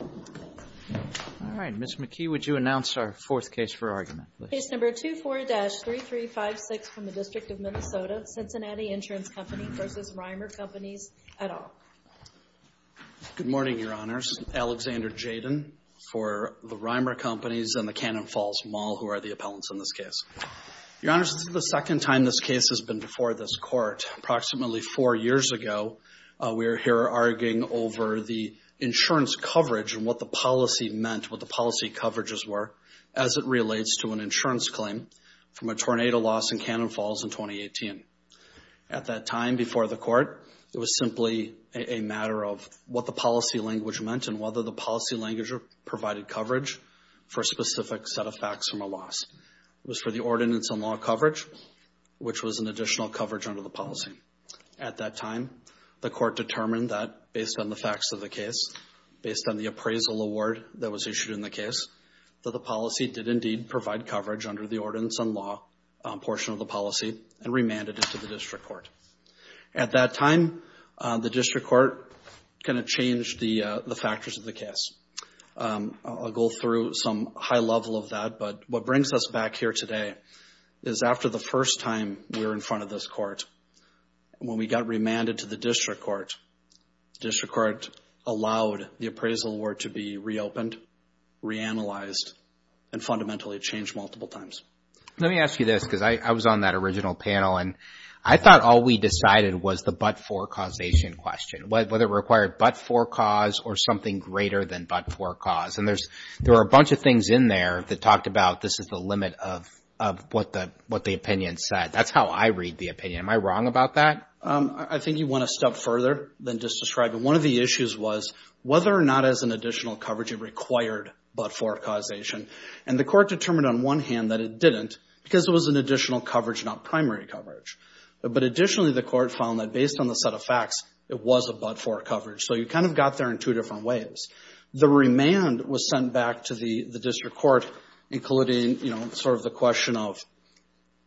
All right, Ms. McKee, would you announce our fourth case for argument? Case number 24-3356 from the District of Minnesota, Cincinnati Insurance Company v. Rymer Companies, et al. Good morning, Your Honors. Alexander Jaden for the Rymer Companies and the Cannon Falls Mall, who are the appellants in this case. Your Honors, this is the second time this case has been before this Court. Approximately four years ago, we are here arguing over the insurance coverage and what the policy meant, what the policy coverages were, as it relates to an insurance claim from a tornado loss in Cannon Falls in 2018. At that time, before the Court, it was simply a matter of what the policy language meant and whether the policy language provided coverage for a specific set of facts from a loss. It was for the ordinance on law coverage, which was an additional coverage under the policy. At that time, the Court determined that, based on the facts of the case, based on the appraisal award that was issued in the case, that the policy did indeed provide coverage under the ordinance on law portion of the policy and remanded it to the District Court. At that time, the District Court kind of changed the factors of the case. I'll go through some high level of that, but what brings us back here today is after the first time we were in front of this Court, when we got remanded to the District Court, the District Court allowed the appraisal award to be reopened, reanalyzed, and fundamentally changed multiple times. Let me ask you this, because I was on that original panel, and I thought all we decided was the but-for causation question, whether it required but-for cause or something greater than but-for cause. And there are a bunch of things in there that talked about this is the limit of what the opinion said. That's how I read the opinion. Am I wrong about that? I think you went a step further than just describing. One of the issues was whether or not as an additional coverage it required but-for causation. And the Court determined on one hand that it didn't because it was an additional coverage, not primary coverage. But additionally, the Court found that based on the set of facts, it was a but-for coverage. So you kind of got there in two different ways. The remand was sent back to the District Court, including sort of the question of,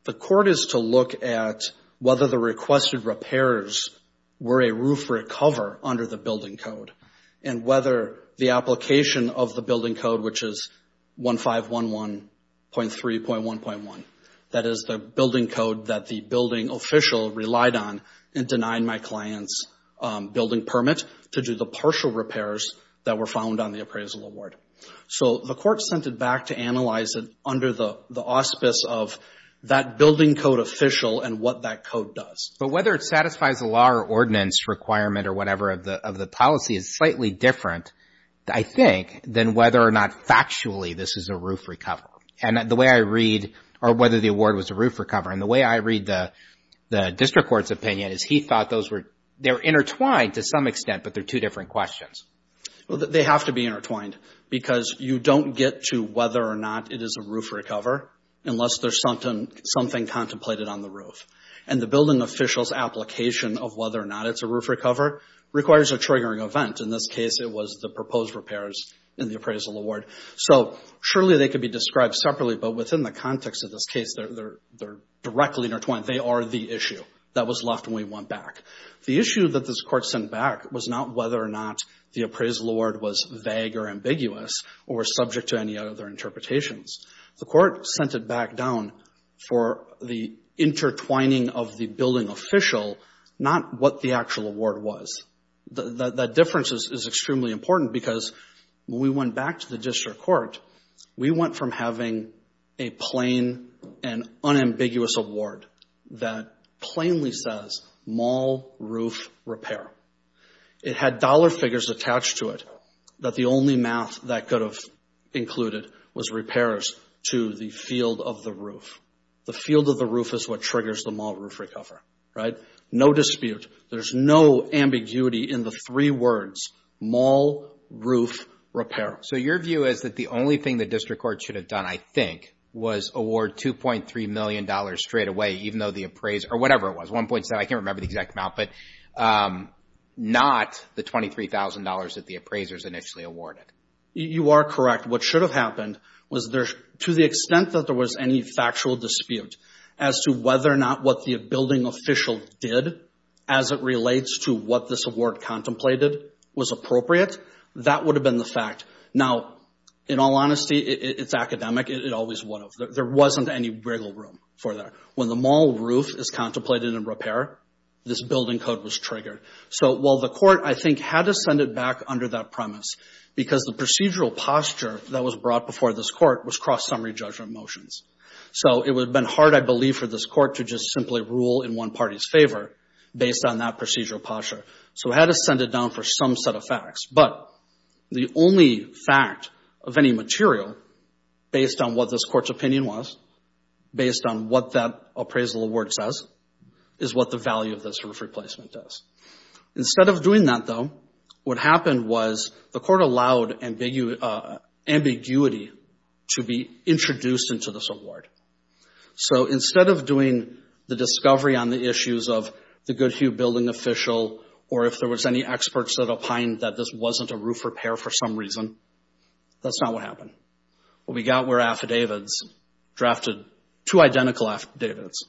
the Court is to look at whether the requested repairs were a roof or a cover under the building code, and whether the application of the building code, which is 1511.3.1.1, that is the building code that the building official relied on and denied my client's building permit to do the partial repairs that were found on the appraisal award. So the Court sent it back to analyze it under the auspice of that building code official and what that code does. But whether it satisfies the law or ordinance requirement or whatever of the policy is slightly different, I think, than whether or not factually this is a roof or cover. And the way I read-or whether the award was a roof or cover. And the way I read the District Court's opinion is he thought those were-they're intertwined to some extent, but they're two different questions. Well, they have to be intertwined because you don't get to whether or not it is a roof or cover unless there's something contemplated on the roof. And the building official's application of whether or not it's a roof or cover requires a triggering event. In this case, it was the proposed repairs in the appraisal award. So surely they could be described separately, but within the context of this case, they're directly intertwined. They are the issue that was left when we went back. The issue that this Court sent back was not whether or not the appraisal award was vague or ambiguous or was subject to any other interpretations. The Court sent it back down for the intertwining of the building official, not what the actual award was. That difference is extremely important because when we went back to the District Court, we went from having a plain and unambiguous award that plainly says mall roof repair. It had dollar figures attached to it that the only math that could have included was repairs to the field of the roof. The field of the roof is what triggers the mall roof recover, right? No dispute. There's no ambiguity in the three words mall roof repair. So your view is that the only thing the District Court should have done, I think, was award $2.3 million straight away even though the appraiser or whatever it was, 1.7, I can't remember the exact amount, but not the $23,000 that the appraisers initially awarded. You are correct. What should have happened was to the extent that there was any factual dispute as to whether or not what the building official did as it relates to what this award contemplated was appropriate, that would have been the fact. Now, in all honesty, it's academic. It always would have. There wasn't any wiggle room for that. When the mall roof is contemplated in repair, this building code was triggered. So while the Court, I think, had to send it back under that premise because the procedural posture that was brought before this Court was cross-summary judgment motions. So it would have been hard, I believe, for this Court to just simply rule in one party's favor based on that procedural posture. So it had to send it down for some set of facts. But the only fact of any material based on what this Court's opinion was, based on what that appraisal award says, is what the value of this roof replacement is. Instead of doing that, though, what happened was the Court allowed ambiguity to be introduced into this award. So instead of doing the discovery on the issues of the Goodhue building official or if there was any experts that opined that this wasn't a roof repair for some reason, that's not what happened. What we got were affidavits drafted, two identical affidavits,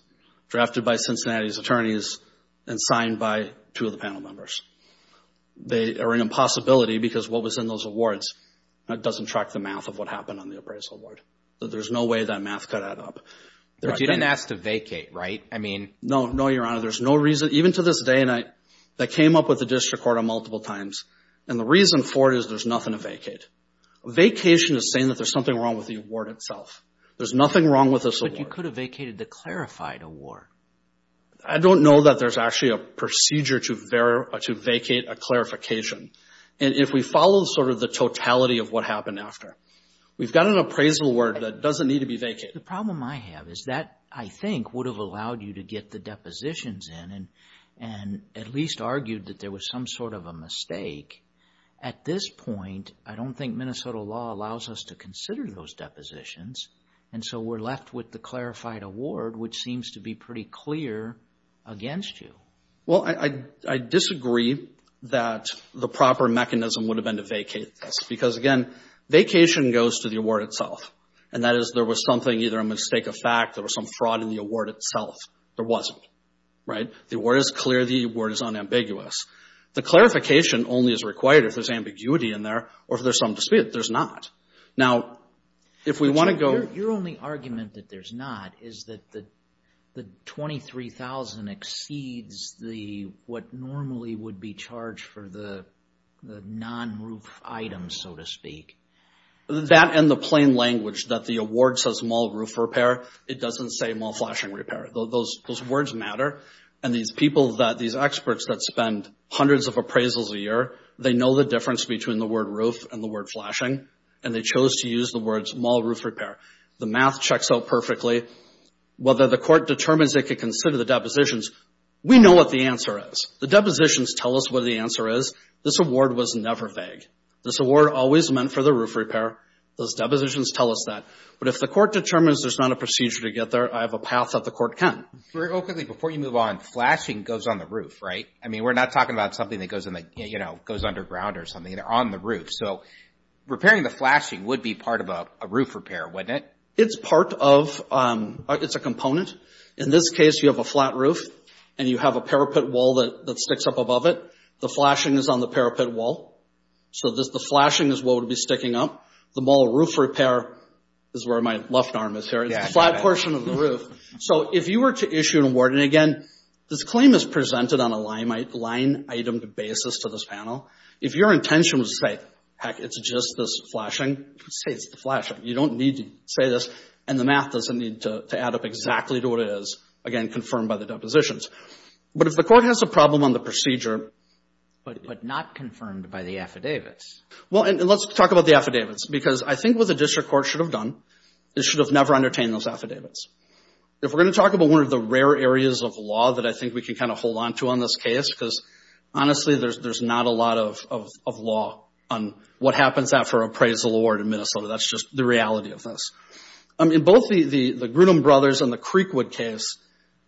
drafted by Cincinnati's attorneys and signed by two of the panel members. They are an impossibility because what was in those awards doesn't track the math of what happened on the appraisal award. There's no way that math could add up. But you didn't ask to vacate, right? No, no, Your Honor. There's no reason, even to this day and age, that came up with the District Court on multiple times. And the reason for it is there's nothing to vacate. Vacation is saying that there's something wrong with the award itself. There's nothing wrong with this award. But you could have vacated the clarified award. I don't know that there's actually a procedure to vacate a clarification. And if we follow sort of the totality of what happened after, we've got an appraisal award that doesn't need to be vacated. The problem I have is that, I think, would have allowed you to get the depositions in and at least argued that there was some sort of a mistake. At this point, I don't think Minnesota law allows us to consider those depositions. And so we're left with the clarified award, which seems to be pretty clear against you. Well, I disagree that the proper mechanism would have been to vacate this. Because, again, vacation goes to the award itself. And that is there was something, either a mistake of fact, there was some fraud in the award itself. There wasn't, right? The award is clear. The award is unambiguous. The clarification only is required if there's ambiguity in there or if there's some dispute. There's not. Now, if we want to go- Your only argument that there's not is that the $23,000 exceeds what normally would be charged for the non-roof items, so to speak. That and the plain language that the award says mall roof repair, it doesn't say mall flashing repair. Those words matter. And these people, these experts that spend hundreds of appraisals a year, they know the difference between the word roof and the word flashing, and they chose to use the words mall roof repair. The math checks out perfectly. Whether the court determines they could consider the depositions, we know what the answer is. The depositions tell us what the answer is. This award was never vague. This award always meant for the roof repair. Those depositions tell us that. But if the court determines there's not a procedure to get there, I have a path that the court can. Very quickly, before you move on, flashing goes on the roof, right? I mean, we're not talking about something that goes in the, you know, goes underground or something. They're on the roof. So repairing the flashing would be part of a roof repair, wouldn't it? It's part of, it's a component. In this case, you have a flat roof, and you have a parapet wall that sticks up above it. The flashing is on the parapet wall. So the flashing is what would be sticking up. The mall roof repair is where my left arm is here. It's the flat portion of the roof. So if you were to issue an award, and, again, this claim is presented on a line-item basis to this panel. If your intention was to say, heck, it's just this flashing, say it's the flashing. You don't need to say this, and the math doesn't need to add up exactly to what it is, again, confirmed by the depositions. But if the court has a problem on the procedure. But not confirmed by the affidavits. Well, and let's talk about the affidavits, because I think what the district court should have done is should have never entertained those affidavits. If we're going to talk about one of the rare areas of law that I think we can kind of hold on to on this case, because, honestly, there's not a lot of law on what happens after appraisal award in Minnesota. That's just the reality of this. In both the Grudem brothers and the Creekwood case,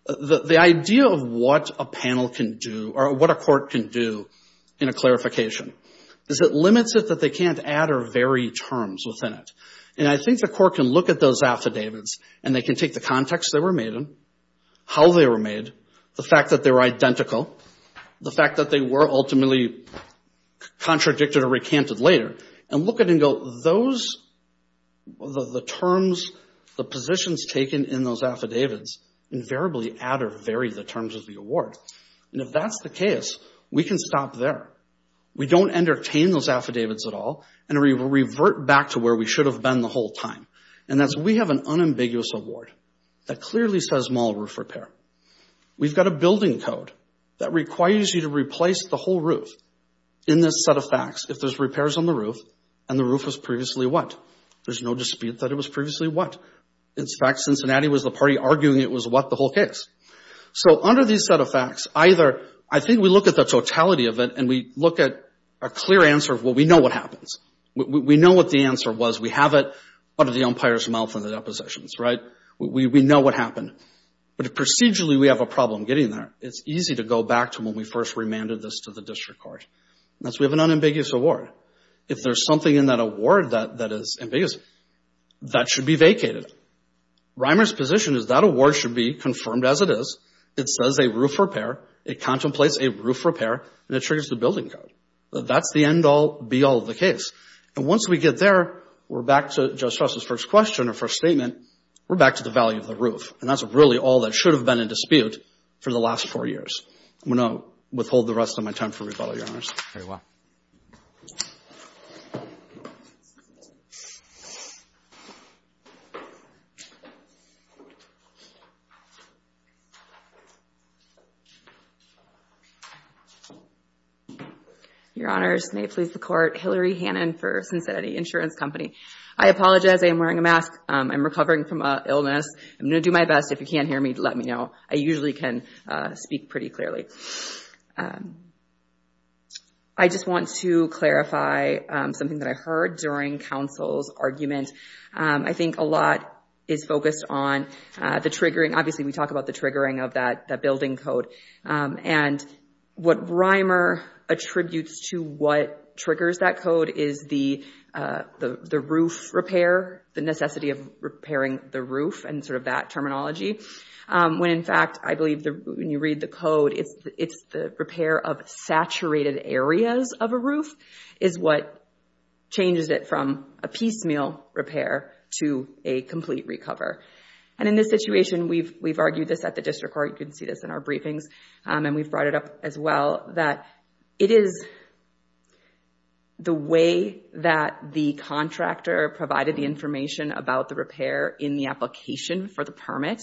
the idea of what a panel can do, or what a court can do in a clarification, is it limits it that they can't add or vary terms within it. And I think the court can look at those affidavits, and they can take the context they were made in, how they were made, the fact that they were identical, the fact that they were ultimately contradicted or recanted later, and look at it and go, those, the terms, the positions taken in those affidavits, invariably add or vary the terms of the award. And if that's the case, we can stop there. We don't entertain those affidavits at all, and we revert back to where we should have been the whole time. And that's, we have an unambiguous award that clearly says mall roof repair. We've got a building code that requires you to replace the whole roof in this set of facts if there's repairs on the roof, and the roof was previously what? There's no dispute that it was previously what? In fact, Cincinnati was the party arguing it was what the whole case. So under these set of facts, either, I think we look at the totality of it, and we look at a clear answer of, well, we know what happens. We know what the answer was. We have it. What are the umpire's mouth on the depositions, right? We know what happened. But procedurally, we have a problem getting there. It's easy to go back to when we first remanded this to the district court. That's, we have an unambiguous award. If there's something in that award that is ambiguous, that should be vacated. Reimer's position is that award should be confirmed as it is. It says a roof repair. It contemplates a roof repair, and it triggers the building code. That's the end-all, be-all of the case. And once we get there, we're back to Judge Strauss' first question or first statement, we're back to the value of the roof. And that's really all that should have been in dispute for the last four years. I'm going to withhold the rest of my time for rebuttal, Your Honors. Very well. Your Honors, may it please the Court, Hillary Hannon for Cincinnati Insurance Company. I apologize. I am wearing a mask. I'm recovering from an illness. I'm going to do my best. If you can't hear me, let me know. I usually can speak pretty clearly. I just want to clarify something that I heard during counsel's argument. I think a lot is focused on the triggering. Obviously, we talk about the triggering of that building code. And what Reimer attributes to what triggers that code is the roof repair, the necessity of repairing the roof and sort of that terminology. When, in fact, I believe when you read the code, it's the repair of saturated areas of a roof is what changes it from a piecemeal repair to a complete recover. And in this situation, we've argued this at the District Court. You can see this in our briefings. And we've brought it up as well that it is the way that the contractor provided the information about the repair in the application for the permit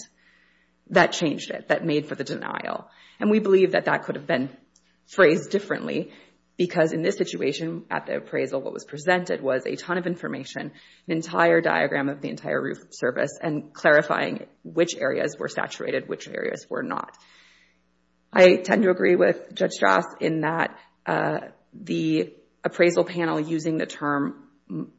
that changed it, that made for the denial. And we believe that that could have been phrased differently because in this situation at the appraisal, what was presented was a ton of information, an entire diagram of the entire roof service and clarifying which areas were saturated, which areas were not. I tend to agree with Judge Strauss in that the appraisal panel using the term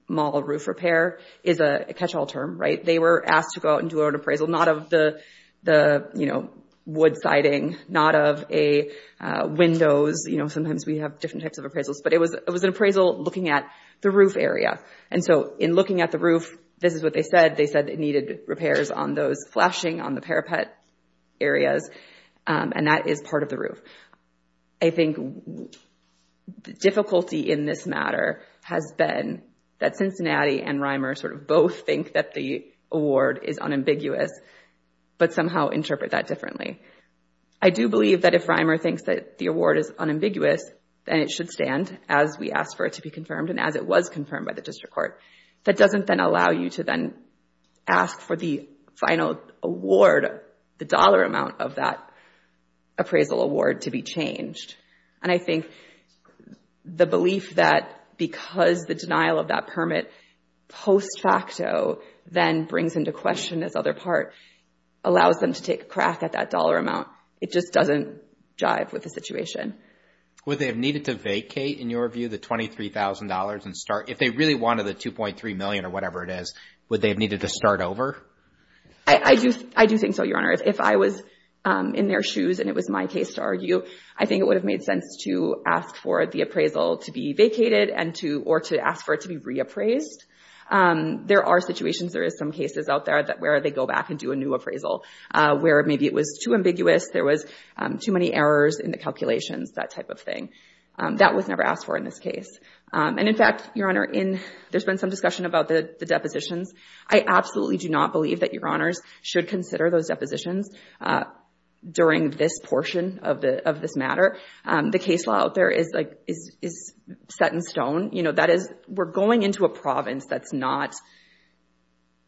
mall roof repair is a catch-all term, right? They were asked to go out and do an appraisal, not of the wood siding, not of a windows. Sometimes we have different types of appraisals. But it was an appraisal looking at the roof area. And so in looking at the roof, this is what they said. They said it needed repairs on those flashing, on the parapet areas, and that is part of the roof. I think the difficulty in this matter has been that Cincinnati and Reimer sort of both think that the award is unambiguous, but somehow interpret that differently. I do believe that if Reimer thinks that the award is unambiguous, then it should stand, as we asked for it to be confirmed and as it was confirmed by the district court. That doesn't then allow you to then ask for the final award, the dollar amount of that appraisal award to be changed. And I think the belief that because the denial of that permit post facto then brings into question this other part allows them to take a crack at that dollar amount. It just doesn't jive with the situation. Would they have needed to vacate, in your view, the $23,000 and start? If they really wanted the $2.3 million or whatever it is, would they have needed to start over? I do think so, Your Honor. If I was in their shoes and it was my case to argue, I think it would have made sense to ask for the appraisal to be vacated or to ask for it to be reappraised. There are situations, there are some cases out there where they go back and do a new appraisal where maybe it was too ambiguous, there was too many errors in the calculations, that type of thing. That was never asked for in this case. And in fact, Your Honor, there's been some discussion about the depositions. I absolutely do not believe that Your Honors should consider those depositions during this portion of this matter. The case law out there is set in stone. That is, we're going into a province that's not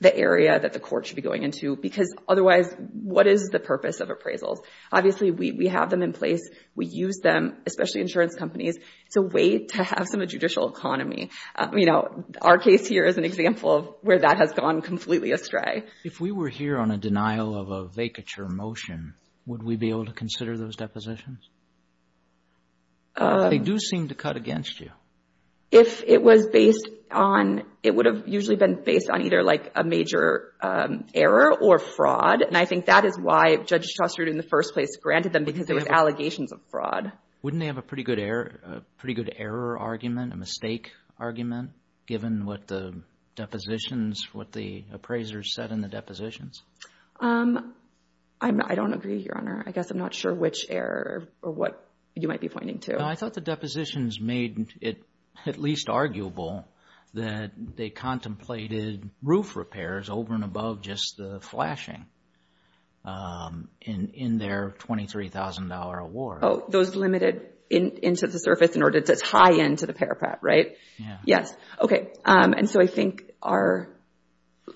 the area that the court should be going into because otherwise, what is the purpose of appraisals? Obviously, we have them in place. We use them, especially insurance companies. It's a way to have some judicial economy. Our case here is an example where that has gone completely astray. If we were here on a denial of a vacature motion, would we be able to consider those depositions? They do seem to cut against you. If it was based on... It would have usually been based on either, like, a major error or fraud, and I think that is why Judge Shuster in the first place granted them because there were allegations of fraud. Wouldn't they have a pretty good error argument, a mistake argument, given what the depositions, what the appraisers said in the depositions? I don't agree, Your Honor. I guess I'm not sure which error or what you might be pointing to. I thought the depositions made it at least arguable that they contemplated roof repairs over and above just the flashing in their $23,000 award. Oh, those limited into the surface in order to tie into the parapet, right? Yes. Okay, and so I think our...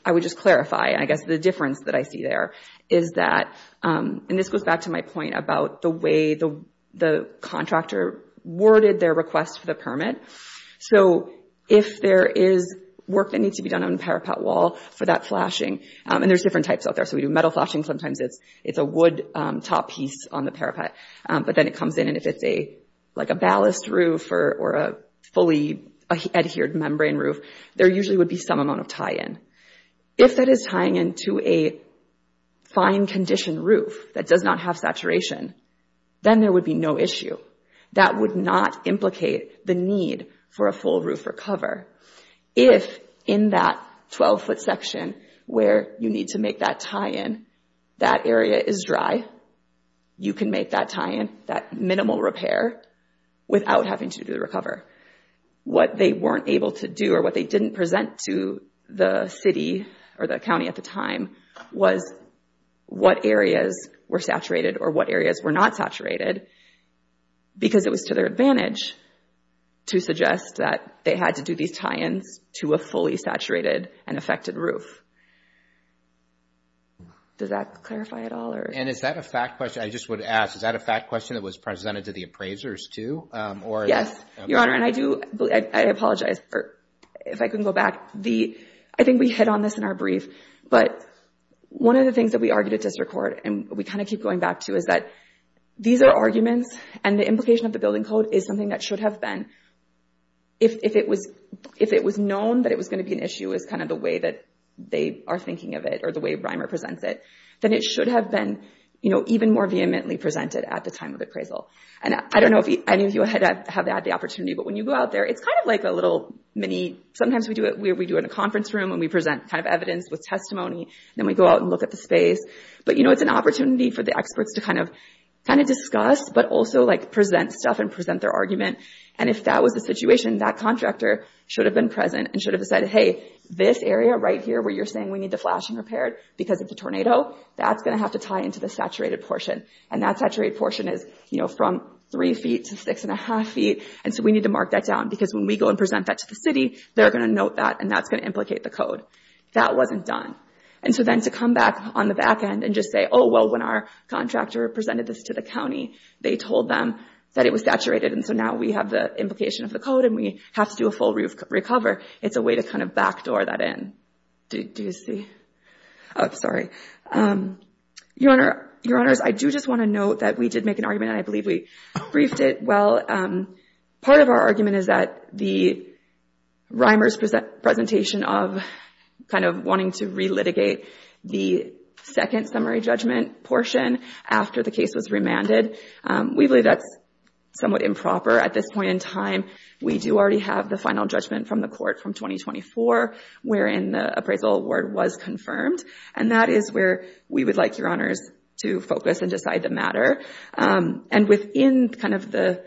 I would just clarify, I guess, the difference that I see there is that, and this goes back to my point about the way the contractor worded their request for the permit, so if there is work that needs to be done on the parapet wall for that flashing, and there's different types out there, so we do metal flashing sometimes. It's a wood top piece on the parapet, but then it comes in, and if it's, like, a ballast roof or a fully adhered membrane roof, there usually would be some amount of tie-in. If that is tying into a fine-condition roof that does not have saturation, then there would be no issue. That would not implicate the need for a full roof or cover. If, in that 12-foot section where you need to make that tie-in, that area is dry, you can make that tie-in, that minimal repair, without having to do the recover. What they weren't able to do or what they didn't present to the city or the county at the time was what areas were saturated or what areas were not saturated because it was to their advantage to suggest that they had to do these tie-ins to a fully saturated and affected roof. Does that clarify at all? And is that a fact question? I just would ask, is that a fact question that was presented to the appraisers, too? Yes, Your Honor, and I do, I apologize if I couldn't go back. I think we hit on this in our brief, but one of the things that we argued at district court and we kind of keep going back to is that these are arguments and the implication of the building code is something that should have been, if it was known that it was going to be an issue as kind of the way that they are thinking of it or the way Reimer presents it, then it should have been even more vehemently presented at the time of appraisal. And I don't know if any of you have had the opportunity, but when you go out there, it's kind of like a little mini, sometimes we do it in a conference room and we present evidence with testimony, then we go out and look at the space. But it's an opportunity for the experts to kind of discuss, but also present stuff and present their argument. And if that was the situation, that contractor should have been present and should have said, hey, this area right here where you're saying we need the flashing repaired because of the tornado, that's going to have to tie into the saturated portion. And that saturated portion is from three feet to six and a half feet, and so we need to mark that down because when we go and present that to the city, they're going to note that and that's going to implicate the code. That wasn't done. And so then to come back on the back end and just say, oh, well, when our contractor presented this to the county, they told them that it was saturated and so now we have the implication of the code and we have to do a full recover, it's a way to kind of backdoor that in. Your Honors, I do just want to note that we did make an argument and I believe we briefed it. Part of our argument is that the Reimers' presentation of kind of wanting to re-litigate the second summary judgment portion after the case was remanded, we believe that's somewhat improper at this point in time. We do already have the final judgment from the court from 2024 wherein the appraisal award was confirmed and that is where we would like, Your Honors, to focus and decide the matter. And within kind of the,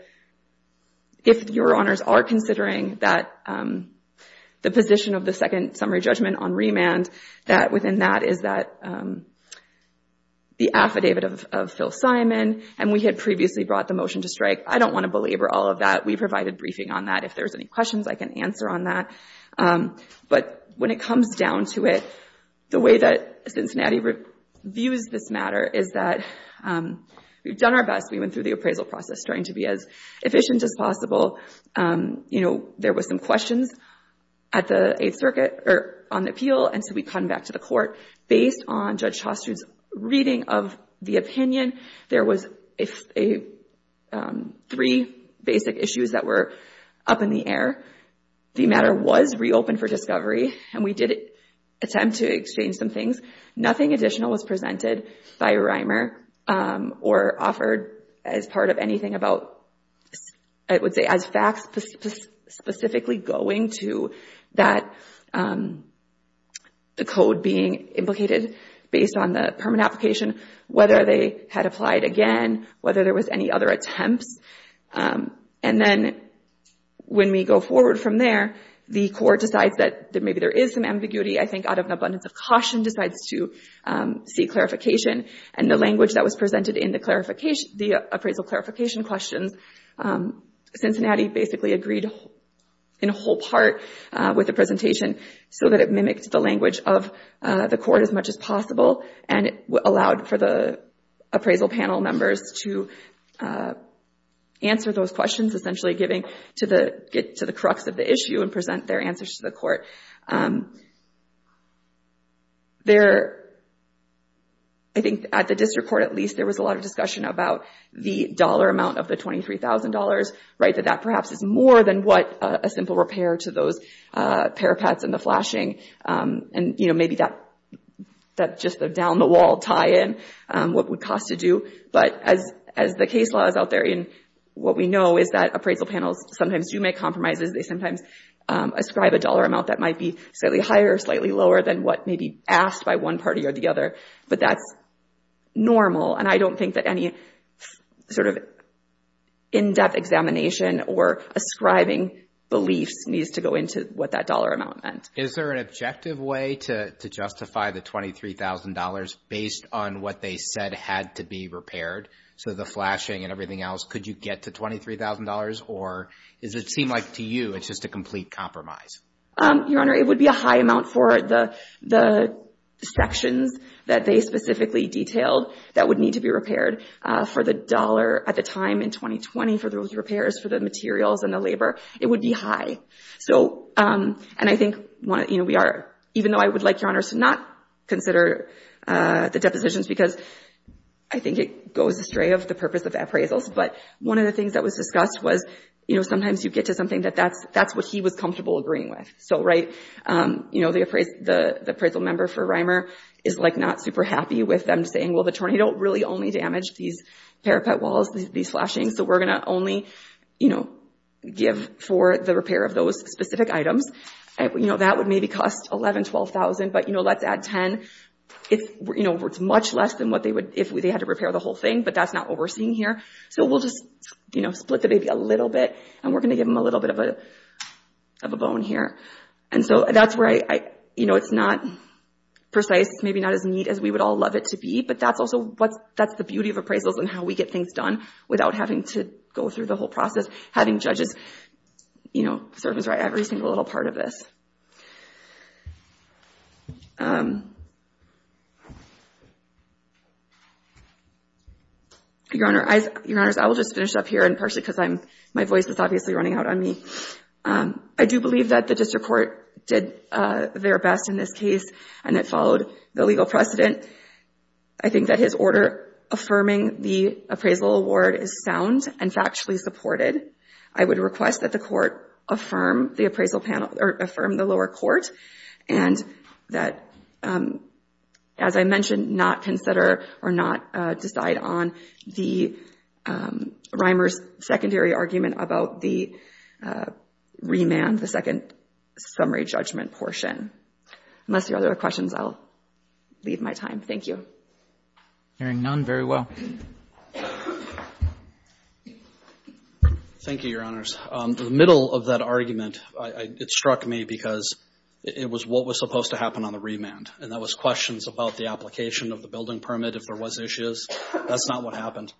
if Your Honors are considering that the position of the second summary judgment on remand, that within that is that the affidavit of Phil Simon, and we had previously brought the motion to strike, I don't want to belabor all of that. We provided briefing on that. If there's any questions, I can answer on that. But when it comes down to it, the way that Cincinnati views this matter is that we've done our best. We went through the appraisal process trying to be as efficient as possible. You know, there was some questions at the Eighth Circuit, or on the appeal, and so we come back to the court. Based on Judge Chastood's reading of the opinion, there was three basic issues that were up in the air. The matter was reopened for discovery and we did attempt to exchange some things. Nothing additional was presented by Reimer or offered as part of anything about, I would say as facts, specifically going to that, the code being implicated based on the permanent application, whether they had applied again, whether there was any other attempts. And then when we go forward from there, the court decides that maybe there is some ambiguity, I think out of an abundance of caution, decides to seek clarification. And the language that was presented in the appraisal clarification questions, Cincinnati basically agreed in whole part with the presentation so that it mimicked the language of the court as much as possible and it allowed for the appraisal panel members to answer those questions, essentially getting to the crux of the issue and present their answers to the court. I think at the district court at least, there was a lot of discussion about the dollar amount of the $23,000, that that perhaps is more than what a simple repair to those parapets and the flashing. And maybe that's just a down-the-wall tie-in, what it would cost to do. But as the case law is out there, what we know is that appraisal panels sometimes do make compromises, they sometimes ascribe a dollar amount that might be slightly higher or slightly lower than what may be asked by one party or the other, but that's normal. And I don't think that any sort of in-depth examination or ascribing beliefs needs to go into what that dollar amount meant. Is there an objective way to justify the $23,000 based on what they said had to be repaired? So the flashing and everything else, could you get to $23,000? Or does it seem like to you, it's just a complete compromise? Your Honor, it would be a high amount for the sections that they specifically detailed that would need to be repaired for the dollar at the time in 2020 for those repairs for the materials and the labor. It would be high. So, and I think, even though I would like, Your Honor, to not consider the depositions because I think it goes astray of the purpose of appraisals, but one of the things that was discussed was, sometimes you get to something that that's what he was comfortable agreeing with. So the appraisal member for Reimer is not super happy with them saying, well, the tornado really only damaged these parapet walls, these flashing, so we're going to only give for the repair of those specific items. That would maybe cost $11,000, $12,000, but let's add $10,000. It's much less than what they would, if they had to repair the whole thing, but that's not what we're seeing here. So we'll just, you know, split the baby a little bit and we're going to give them a little bit of a bone here. And so that's where I, you know, it's not precise, maybe not as neat as we would all love it to be, but that's also what's, that's the beauty of appraisals and how we get things done without having to go through the whole process, having judges, you know, serve us right every single little part of this. Your Honor, I, Your Honors, I will just finish up here and partially because I'm, my voice is obviously running out on me. I do believe that the district court did their best in this case and it followed the legal precedent. I think that his order affirming the appraisal award is sound and factually supported. I would request that the court affirm the appraisal panel, or affirm the lower court, and that, as I mentioned, not consider or not decide on the Reimer's secondary argument about the remand, the second summary judgment portion. Unless there are other questions, I'll leave my time. Thank you. Hearing none, very well. Thank you, Your Honors. The middle of that argument, it struck me because it was what was supposed to happen on the remand, and that was questions about the application of the building permit if there was issues. That's not what happened.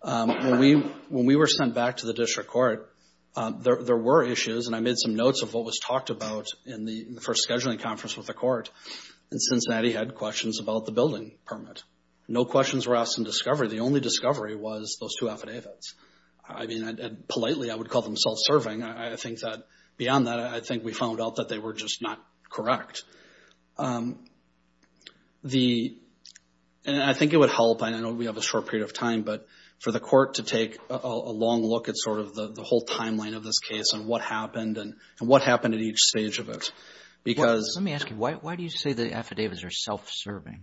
When we were sent back to the district court, there were issues, and I made some notes of what was talked about in the first scheduling conference with the court, and Cincinnati had questions about the building permit. No questions were asked in discovery. The only discovery was those two affidavits. I mean, and politely, I would call them self-serving. I think that beyond that, I think we found out that they were just not correct. I think it would help, and I know we have a short period of time, but for the court to take a long look at sort of the whole timeline of this case and what happened and what happened at each stage of it. Let me ask you, why do you say the affidavits are self-serving?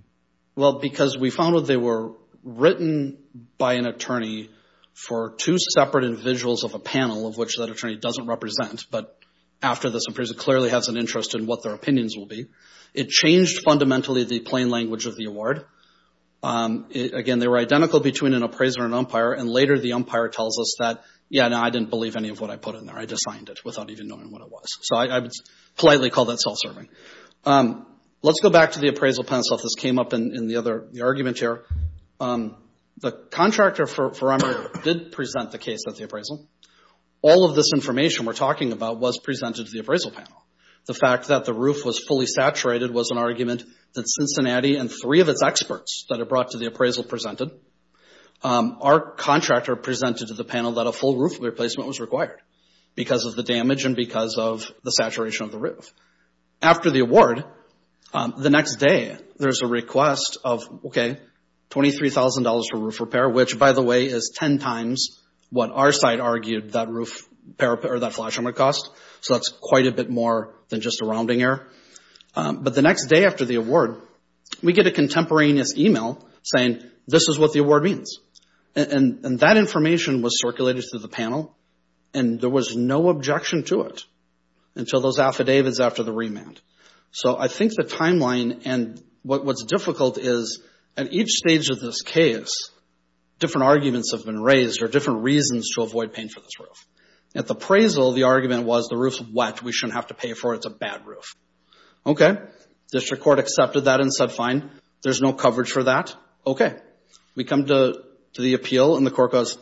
Well, because we found that they were written by an attorney for two separate individuals of a panel, of which that attorney doesn't represent, but after this appraisal, clearly has an interest in what their opinions will be. It changed fundamentally the plain language of the award. Again, they were identical between an appraiser and umpire, and later the umpire tells us that, yeah, no, I didn't believe any of what I put in there. I just signed it without even knowing what it was. So I would politely call that self-serving. Let's go back to the appraisal pencil. This came up in the other argument here. The contractor for Emery did present the case at the appraisal. All of this information we're talking about was presented to the appraisal panel. The fact that the roof was fully saturated was an argument that Cincinnati and three of its experts that it brought to the appraisal presented. Our contractor presented to the panel that a full roof replacement was required because of the damage and because of the saturation of the roof. After the award, the next day there's a request of, okay, $23,000 for roof repair, which, by the way, is 10 times what our side argued that flash armor cost. So that's quite a bit more than just a rounding error. But the next day after the award, we get a contemporaneous email saying, this is what the award means. And that information was circulated to the panel, and there was no objection to it until those affidavits after the remand. So I think the timeline, and what's difficult is at each stage of this case, different arguments have been raised or different reasons to avoid paying for this roof. At the appraisal, the argument was, the roof's wet, we shouldn't have to pay for it, it's a bad roof. Okay, district court accepted that and said, fine, there's no coverage for that, okay. We come to the appeal, and the court goes,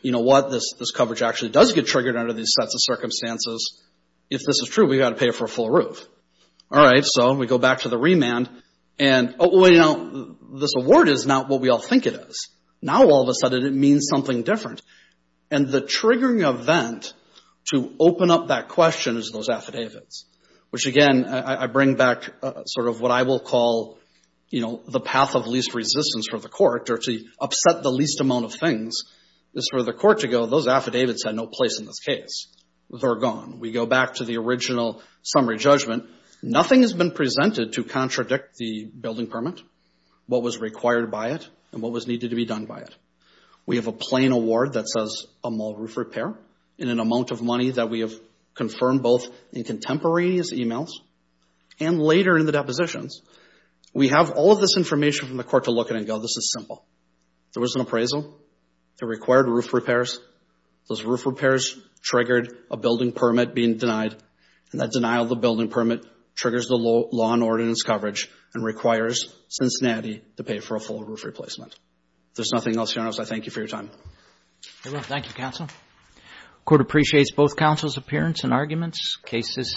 you know what, this coverage actually does get triggered under these sets of circumstances. If this is true, we've got to pay for a full roof. All right, so we go back to the remand, and this award is not what we all think it is. Now all of a sudden it means something different. And the triggering event to open up that question is those affidavits, which again, I bring back sort of what I will call the path of least resistance for the court, or to upset the least amount of things, is for the court to go, those affidavits had no place in this case. They're gone. We go back to the original summary judgment. Nothing has been presented to contradict the building permit, what was required by it, and what was needed to be done by it. We have a plain award that says a mall roof repair in an amount of money that we have confirmed both in contemporaneous emails and later in the depositions. We have all of this information from the court to look at and go, this is simple. There was an appraisal that required roof repairs. Those roof repairs triggered a building permit being denied, and that denial of the building permit triggers the law and ordinance coverage and requires Cincinnati to pay for a full roof replacement. If there's nothing else, Your Honor, I thank you for your time. Thank you, counsel. The court appreciates both counsel's appearance and arguments. Case is submitted.